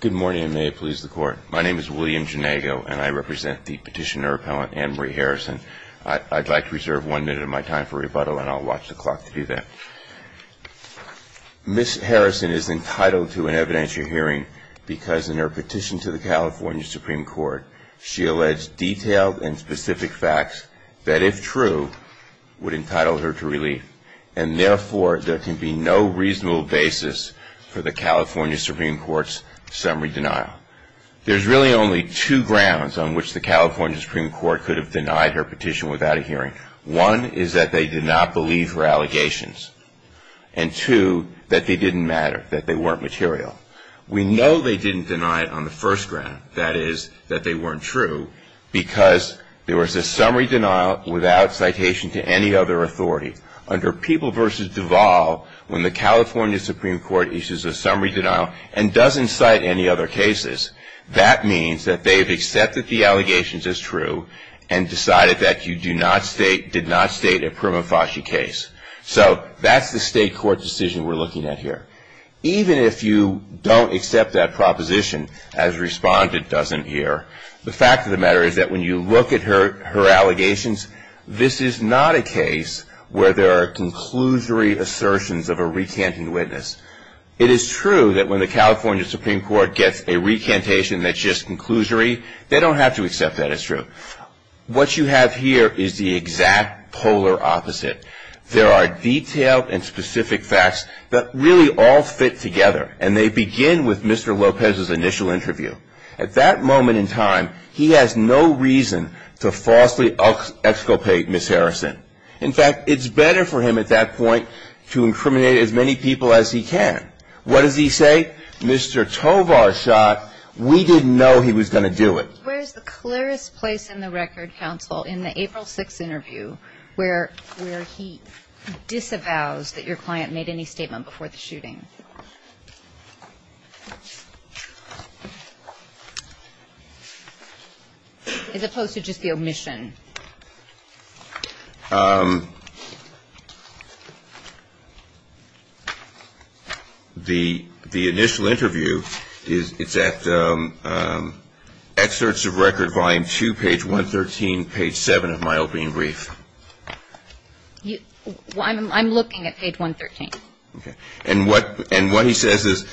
Good morning and may it please the court. My name is William Janago and I represent the petitioner appellant Ann Marie Harrison. I'd like to reserve one minute of my time for rebuttal and I'll watch the clock to do that. Ms. Harrison is entitled to an evidentiary hearing because in her petition to the California Supreme Court she alleged detailed and specific facts that if true would entitle her to relief. And therefore, there can be no reasonable basis for the California Supreme Court's summary denial. There's really only two grounds on which the California Supreme Court could have denied her petition without a hearing. One is that they did not believe her allegations. And two, that they didn't matter, that they weren't material. We know they didn't deny it on the first ground, that is, that they weren't true, because there was a summary denial without citation to any other authority. Under People v. Duvall, when the California Supreme Court issues a summary denial and doesn't cite any other cases, that means that they've accepted the allegations as true and decided that you do not state, did not state a prima facie case. So that's the state court decision we're looking at here. Even if you don't accept that proposition, as responded, doesn't hear, the fact of the matter is that when you look at her allegations, this is not a case where there are conclusory assertions of a recanting witness. It is true that when the California Supreme Court gets a recantation that's just conclusory, they don't have to accept that as true. What you have here is the exact polar opposite. There are detailed and specific facts that really all fit together. And they begin with Mr. Lopez's initial interview. At that moment in time, he has no reason to falsely exculpate Ms. Harrison. In fact, it's better for him at that point to incriminate as many people as he can. What does he say? Mr. Tovar shot. We didn't know he was going to do it. Where is the clearest place in the record, counsel, in the April 6 interview where he disavows that your client made any statement before the shooting? As opposed to just the omission. The initial interview, it's at excerpts of record volume 2, page 113, page 7 of my opening brief. I'm looking at page 113. And what he says is,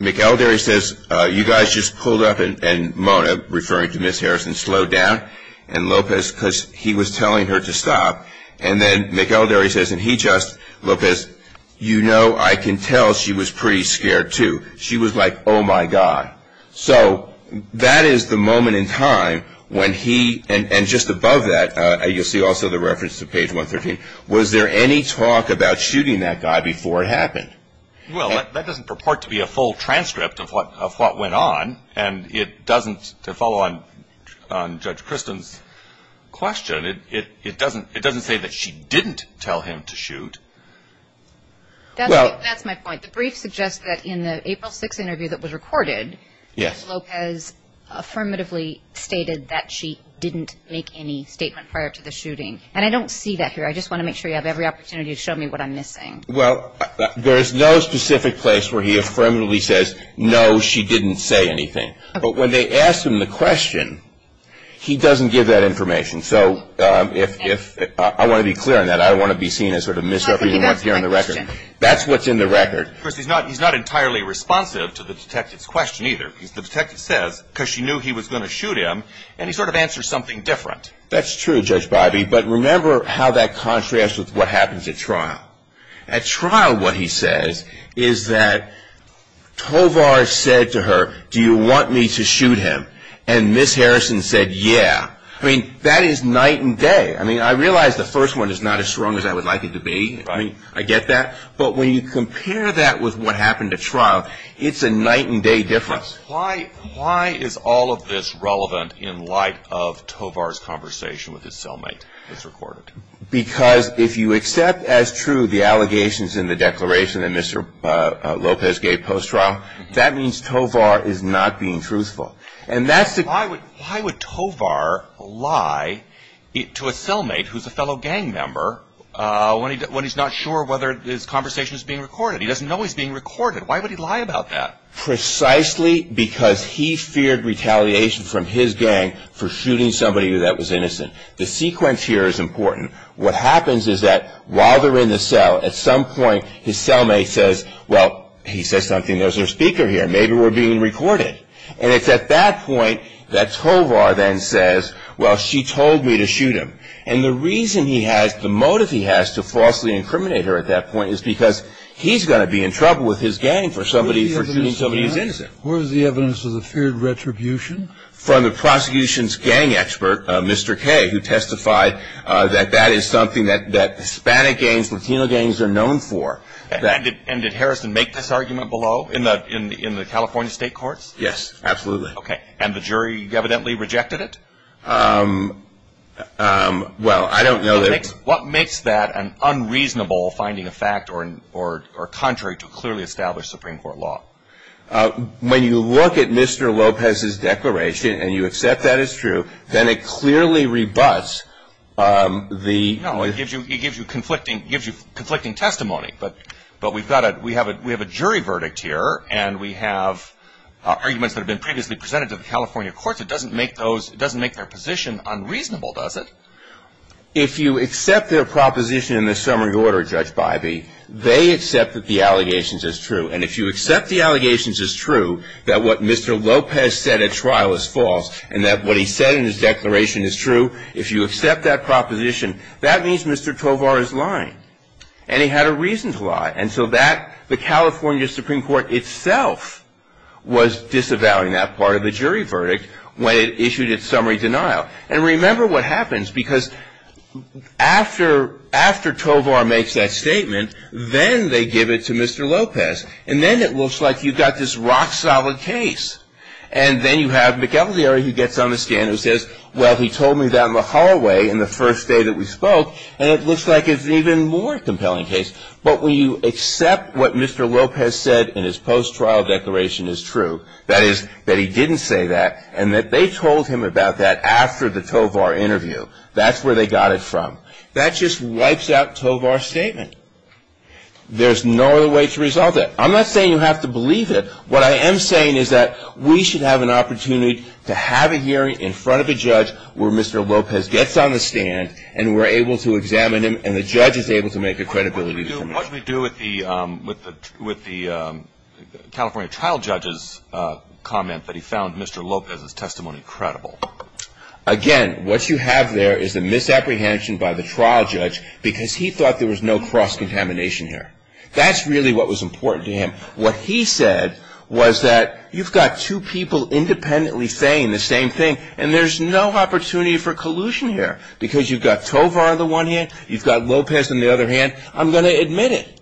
McElderry says, you guys just pulled up and Mona, referring to Ms. Harrison, slowed down. And Lopez, because he was telling her to stop. And then McElderry says, and he just, Lopez, you know I can tell she was pretty scared too. She was like, oh my God. So that is the moment in time when he, and just above that, you'll see also the reference to page 113. Was there any talk about shooting that guy before it happened? Well, that doesn't purport to be a full transcript of what went on. And it doesn't, to follow on Judge Kristen's question, it doesn't say that she didn't tell him to shoot. That's my point. The brief suggests that in the April 6 interview that was recorded, Lopez affirmatively stated that she didn't make any statement prior to the shooting. And I don't see that here. I just want to make sure you have every opportunity to show me what I'm missing. Well, there is no specific place where he affirmatively says, no, she didn't say anything. But when they asked him the question, he doesn't give that information. So I want to be clear on that. I don't want to be seen as sort of misrepresenting what's here in the record. That's what's in the record. Of course, he's not entirely responsive to the detective's question either. The detective says, because she knew he was going to shoot him, and he sort of answers something different. That's true, Judge Bybee. But remember how that contrasts with what happens at trial. At trial, what he says is that Tovar said to her, do you want me to shoot him? And Ms. Harrison said, yeah. I mean, that is night and day. I mean, I realize the first one is not as strong as I would like it to be. I mean, I get that. But when you compare that with what happened at trial, it's a night and day difference. Why is all of this relevant in light of Tovar's conversation with his cellmate that's recorded? Because if you accept as true the allegations in the declaration that Mr. Lopez gave post-trial, that means Tovar is not being truthful. Why would Tovar lie to a cellmate who's a fellow gang member when he's not sure whether his conversation is being recorded? He doesn't know he's being recorded. Why would he lie about that? Precisely because he feared retaliation from his gang for shooting somebody that was innocent. The sequence here is important. What happens is that while they're in the cell, at some point his cellmate says, well, he says something. There's our speaker here. Maybe we're being recorded. And it's at that point that Tovar then says, well, she told me to shoot him. And the reason he has, the motive he has to falsely incriminate her at that point is because he's going to be in trouble with his gang for shooting somebody who's innocent. Where is the evidence of the feared retribution? From the prosecution's gang expert, Mr. Kaye, who testified that that is something that Hispanic gangs, Latino gangs are known for. And did Harrison make this argument below in the California state courts? Yes, absolutely. Okay. And the jury evidently rejected it? Well, I don't know that. What makes that an unreasonable finding of fact or contrary to clearly established Supreme Court law? When you look at Mr. Lopez's declaration and you accept that it's true, then it clearly rebuts the... No, it gives you conflicting testimony. But we have a jury verdict here and we have arguments that have been previously presented to the California courts. It doesn't make those, it doesn't make their position unreasonable, does it? If you accept their proposition in the summary order, Judge Bybee, they accept that the allegations is true. And if you accept the allegations is true, that what Mr. Lopez said at trial is false and that what he said in his declaration is true, if you accept that proposition, that means Mr. Tovar is lying. And he had a reason to lie. And so that, the California Supreme Court itself was disavowing that part of the jury verdict when it issued its summary denial. And remember what happens, because after Tovar makes that statement, then they give it to Mr. Lopez. And then it looks like you've got this rock-solid case. And then you have McElderry who gets on the stand who says, well, he told me that in the hallway in the first day that we spoke. And it looks like it's an even more compelling case. But when you accept what Mr. Lopez said in his post-trial declaration is true, that is, that he didn't say that, and that they told him about that after the Tovar interview, that's where they got it from. That just wipes out Tovar's statement. There's no other way to resolve it. I'm not saying you have to believe it. What I am saying is that we should have an opportunity to have a hearing in front of a judge where Mr. Lopez gets on the stand and we're able to examine him and the judge is able to make a credibility determination. What do we do with the California trial judge's comment that he found Mr. Lopez's testimony credible? Again, what you have there is a misapprehension by the trial judge because he thought there was no cross-contamination here. That's really what was important to him. What he said was that you've got two people independently saying the same thing and there's no opportunity for collusion here because you've got Tovar on the one hand, you've got Lopez on the other hand, I'm going to admit it.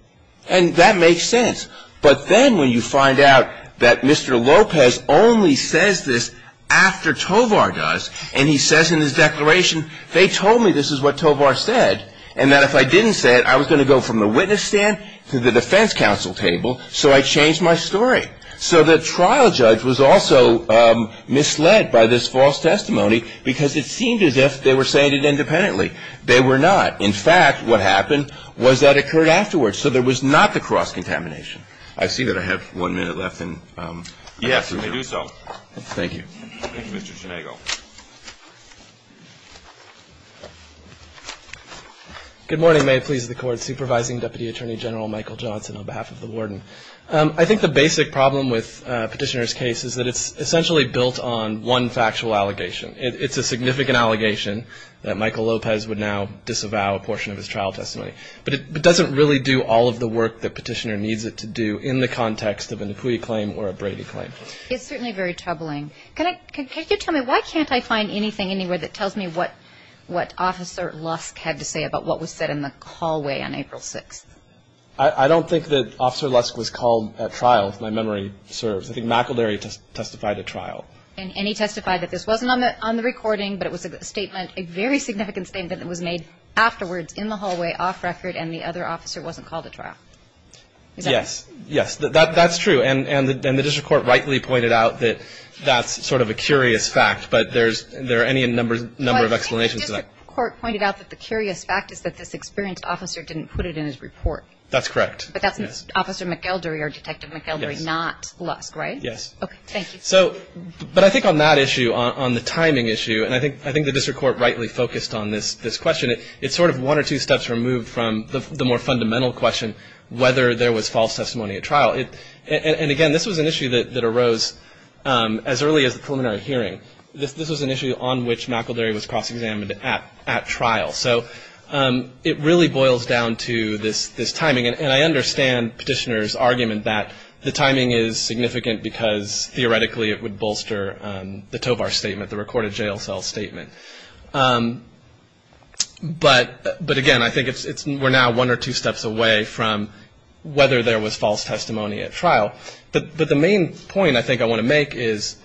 And that makes sense. But then when you find out that Mr. Lopez only says this after Tovar does and he says in his declaration, they told me this is what Tovar said and that if I didn't say it, I was going to go from the witness stand to the defense counsel table, so I changed my story. So the trial judge was also misled by this false testimony because it seemed as if they were saying it independently. They were not. In fact, what happened was that occurred afterwards, so there was not the cross-contamination. I see that I have one minute left. Yes, you may do so. Thank you. Thank you, Mr. Sinego. Good morning. May it please the Court. Supervising Deputy Attorney General Michael Johnson on behalf of the warden. I think the basic problem with Petitioner's case is that it's essentially built on one factual allegation. It's a significant allegation that Michael Lopez would now disavow a portion of his trial testimony, but it doesn't really do all of the work that Petitioner needs it to do in the context of an Apui claim or a Brady claim. It's certainly very troubling. Can you tell me, why can't I find anything anywhere that tells me what Officer Lusk had to say about what was said in the hallway on April 6th? I don't think that Officer Lusk was called at trial, if my memory serves. I think McElderry testified at trial. And he testified that this wasn't on the recording, but it was a statement, a very significant statement that was made afterwards in the hallway, off record, and the other officer wasn't called at trial. Is that right? Yes. Yes. That's true. And the district court rightly pointed out that that's sort of a curious fact, but there are any number of explanations to that. I think the district court pointed out that the curious fact is that this experienced officer didn't put it in his report. That's correct. But that's Officer McElderry or Detective McElderry, not Lusk, right? Yes. Okay. Thank you. But I think on that issue, on the timing issue, and I think the district court rightly focused on this question, it's sort of one or two steps removed from the more fundamental question, whether there was false testimony at trial. And, again, this was an issue that arose as early as the preliminary hearing. This was an issue on which McElderry was cross-examined at trial. So it really boils down to this timing. And I understand Petitioner's argument that the timing is significant because, theoretically, it would bolster the Tovar statement, the recorded jail cell statement. But, again, I think we're now one or two steps away from whether there was false testimony at trial. But the main point I think I want to make is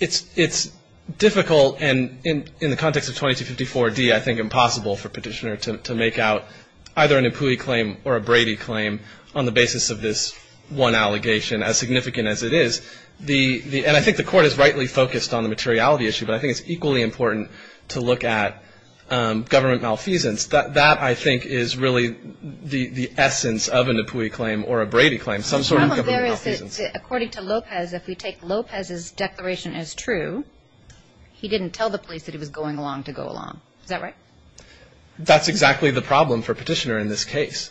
it's difficult and in the context of 2254D, I think impossible for Petitioner to make out either an Empui claim or a Brady claim on the basis of this one allegation, as significant as it is. And I think the court has rightly focused on the materiality issue, but I think it's equally important to look at government malfeasance. That, I think, is really the essence of an Empui claim or a Brady claim, some sort of government malfeasance. The problem there is that, according to Lopez, if we take Lopez's declaration as true, he didn't tell the police that he was going along to go along. Is that right? That's exactly the problem for Petitioner in this case.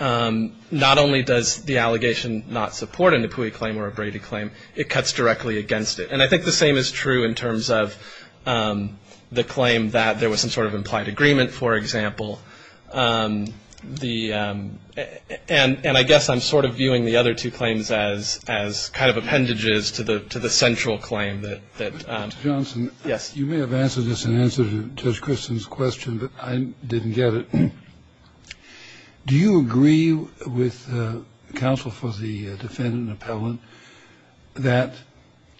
Not only does the allegation not support an Empui claim or a Brady claim, it cuts directly against it. And I think the same is true in terms of the claim that there was some sort of implied agreement, for example. The – and I guess I'm sort of viewing the other two claims as kind of appendages to the central claim that – that – Mr. Johnson. Yes. You may have answered this in answer to Judge Christen's question, but I didn't get it. Do you agree with counsel for the defendant and appellant that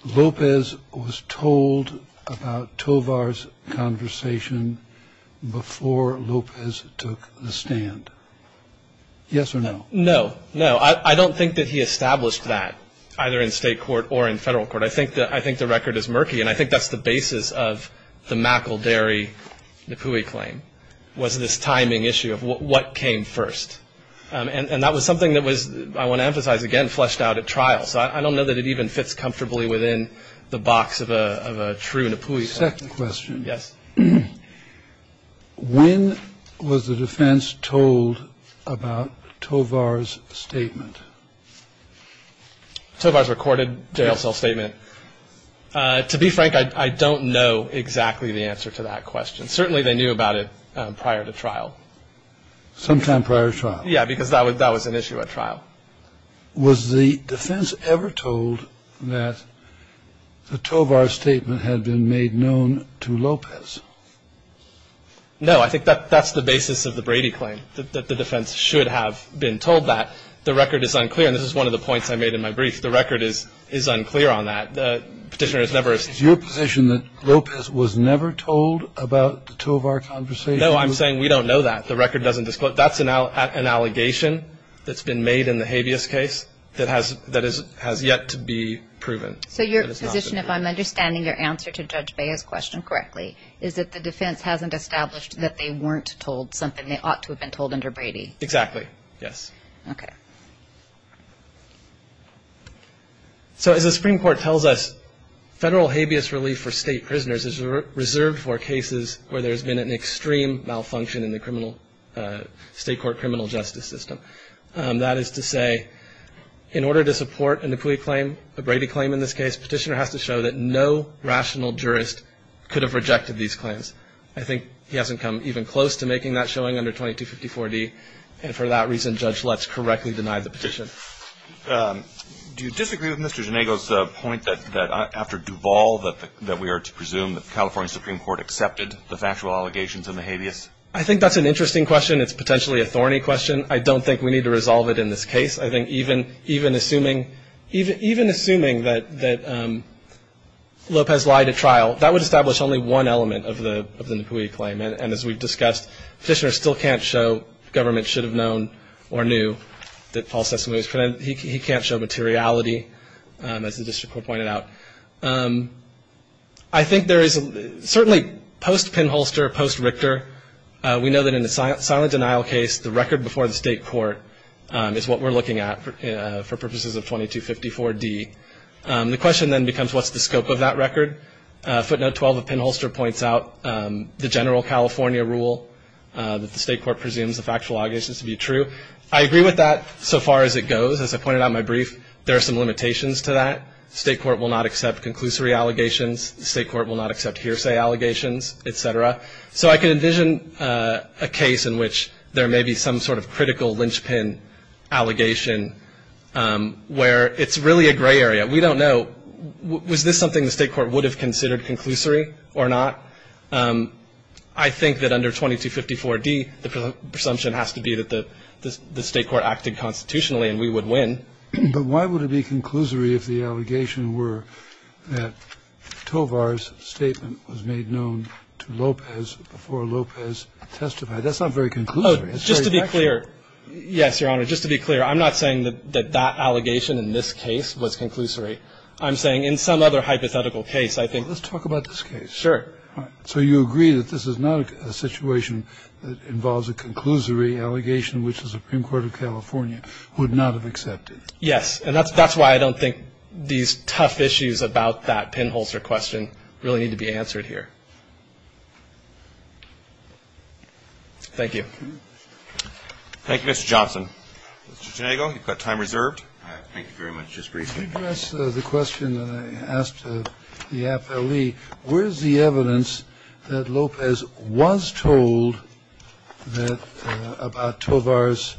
Lopez was told about Tovar's conversation before Lopez took the stand? Yes or no? No. No. I don't think that he established that, either in state court or in federal court. I think the – I think the record is murky, and I think that's the basis of the McElderry Empui claim. It was this timing issue of what came first. And that was something that was, I want to emphasize again, fleshed out at trial. So I don't know that it even fits comfortably within the box of a true Empui claim. Second question. Yes. When was the defense told about Tovar's statement? Tovar's recorded jail cell statement? Yes. To be frank, I don't know exactly the answer to that question. Certainly they knew about it prior to trial. Sometime prior to trial. Yes, because that was an issue at trial. Was the defense ever told that the Tovar statement had been made known to Lopez? No. I think that's the basis of the Brady claim, that the defense should have been told that. The record is unclear, and this is one of the points I made in my brief. The record is unclear on that. The Petitioner has never – Is your position that Lopez was never told about the Tovar conversation? No, I'm saying we don't know that. The record doesn't disclose – that's an allegation that's been made in the Habeas case that has yet to be proven. So your position, if I'm understanding your answer to Judge Bea's question correctly, is that the defense hasn't established that they weren't told something they ought to have been told under Brady? Exactly. Yes. Okay. So as the Supreme Court tells us, federal habeas relief for state prisoners is reserved for cases where there's been an extreme malfunction in the criminal – state court criminal justice system. That is to say, in order to support a Napuli claim, a Brady claim in this case, Petitioner has to show that no rational jurist could have rejected these claims. I think he hasn't come even close to making that showing under 2254D, and for that reason, Judge Lutz correctly denied the petition. Do you disagree with Mr. Genego's point that after Duval, that we are to presume that the California Supreme Court accepted the factual allegations in the Habeas? I think that's an interesting question. It's potentially a thorny question. I don't think we need to resolve it in this case. I think even assuming that Lopez lied at trial, that would establish only one element of the Napuli claim, and as we've discussed, Petitioner still can't show government should have known or knew that Paul Sessomani was present. He can't show materiality, as the district court pointed out. I think there is certainly post-Pinholster, post-Richter, we know that in a silent denial case, the record before the state court is what we're looking at for purposes of 2254D. The question then becomes, what's the scope of that record? Footnote 12 of Pinholster points out the general California rule, that the state court presumes the factual allegations to be true. I agree with that so far as it goes. As I pointed out in my brief, there are some limitations to that. The state court will not accept conclusory allegations. The state court will not accept hearsay allegations, et cetera. So I can envision a case in which there may be some sort of critical lynchpin allegation, where it's really a gray area. We don't know. Was this something the state court would have considered conclusory or not? I think that under 2254D, the presumption has to be that the state court acted constitutionally and we would win. But why would it be conclusory if the allegation were that Tovar's statement was made known to Lopez before Lopez testified? That's not very conclusory. It's very factual. Oh, just to be clear. Yes, Your Honor, just to be clear. I'm not saying that that allegation in this case was conclusory. I'm saying in some other hypothetical case, I think. Well, let's talk about this case. Sure. So you agree that this is not a situation that involves a conclusory allegation, which the Supreme Court of California would not have accepted? Yes. And that's why I don't think these tough issues about that pinholster question really need to be answered here. Thank you. Thank you, Mr. Johnson. Mr. Janaygo, you've got time reserved. Thank you very much. Just briefly. Let me address the question that I asked the affilee. Where is the evidence that Lopez was told that about Tovar's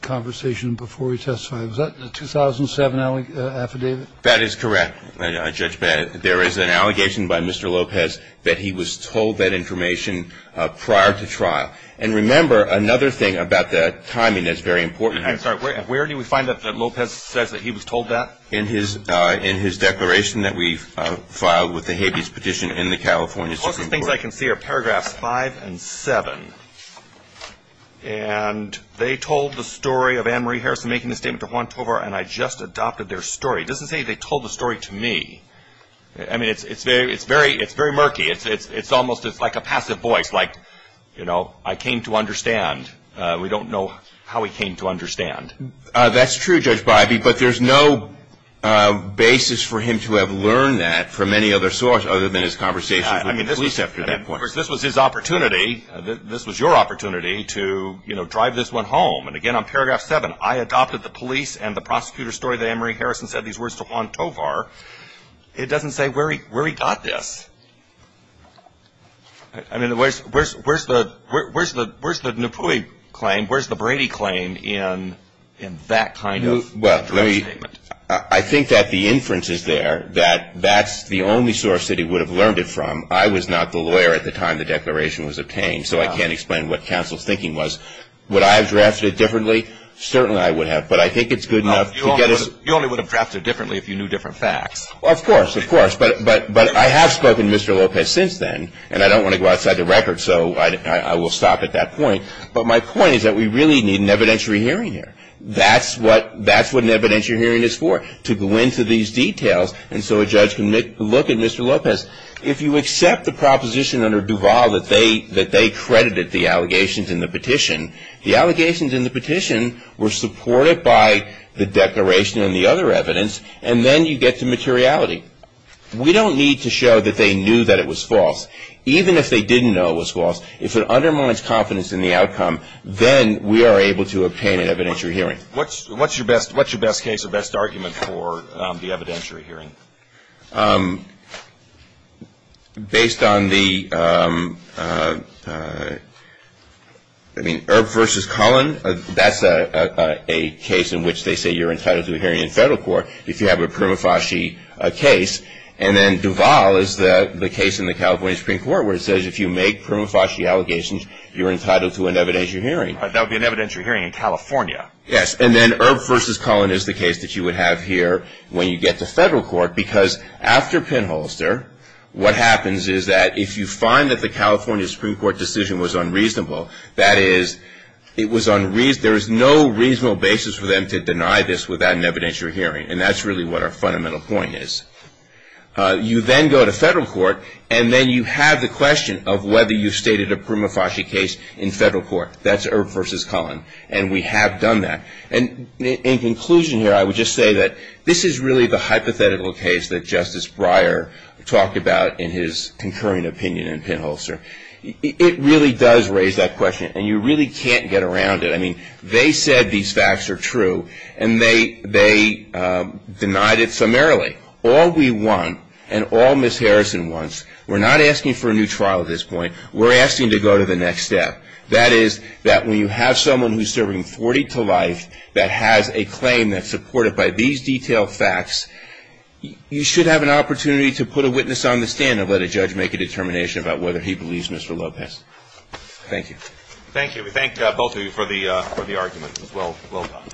conversation before he testified? Was that in the 2007 affidavit? That is correct, Judge Bennett. There is an allegation by Mr. Lopez that he was told that information prior to trial. And remember, another thing about the timing that's very important. Where do we find that Lopez says that he was told that? In his declaration that we filed with the habeas petition in the California Supreme Court. The closest things I can see are paragraphs 5 and 7. And they told the story of Ann Marie Harrison making a statement to Juan Tovar, and I just adopted their story. It doesn't say they told the story to me. I mean, it's very murky. It's almost like a passive voice, like, you know, I came to understand. We don't know how he came to understand. That's true, Judge Bybee, but there's no basis for him to have learned that from any other source other than his conversations with police after that point. Of course, this was his opportunity. This was your opportunity to, you know, drive this one home. And, again, on paragraph 7, I adopted the police and the prosecutor's story that Ann Marie Harrison said these words to Juan Tovar. It doesn't say where he got this. I mean, where's the Napoli claim? Where's the Brady claim in that kind of statement? I think that the inference is there that that's the only source that he would have learned it from. I was not the lawyer at the time the declaration was obtained, so I can't explain what counsel's thinking was. Would I have drafted it differently? Certainly I would have, but I think it's good enough to get us. You only would have drafted it differently if you knew different facts. Of course, of course. But I have spoken to Mr. Lopez since then, and I don't want to go outside the record, so I will stop at that point. But my point is that we really need an evidentiary hearing here. That's what an evidentiary hearing is for, to go into these details, and so a judge can look at Mr. Lopez. If you accept the proposition under Duval that they credited the allegations in the petition, the allegations in the petition were supported by the declaration and the other evidence, and then you get to materiality. We don't need to show that they knew that it was false. Even if they didn't know it was false, if it undermines confidence in the outcome, then we are able to obtain an evidentiary hearing. What's your best case or best argument for the evidentiary hearing? Based on the, I mean, Earp v. Cullen, that's a case in which they say you're entitled to a hearing in federal court. If you have a prima facie case, and then Duval is the case in the California Supreme Court where it says if you make prima facie allegations, you're entitled to an evidentiary hearing. That would be an evidentiary hearing in California. Yes, and then Earp v. Cullen is the case that you would have here when you get to federal court because after Penholster, what happens is that if you find that the California Supreme Court decision was unreasonable, that is, there is no reasonable basis for them to deny this without an evidentiary hearing, and that's really what our fundamental point is. You then go to federal court, and then you have the question of whether you've stated a prima facie case in federal court. That's Earp v. Cullen, and we have done that. And in conclusion here, I would just say that this is really the hypothetical case that Justice Breyer talked about in his concurring opinion in Penholster. It really does raise that question, and you really can't get around it. I mean, they said these facts are true, and they denied it summarily. All we want and all Ms. Harrison wants, we're not asking for a new trial at this point. We're asking to go to the next step. That is that when you have someone who's serving 40 to life that has a claim that's supported by these detailed facts, you should have an opportunity to put a witness on the stand and let a judge make a determination about whether he believes Mr. Lopez. Thank you. Thank you. We thank both of you for the argument as well. Well done.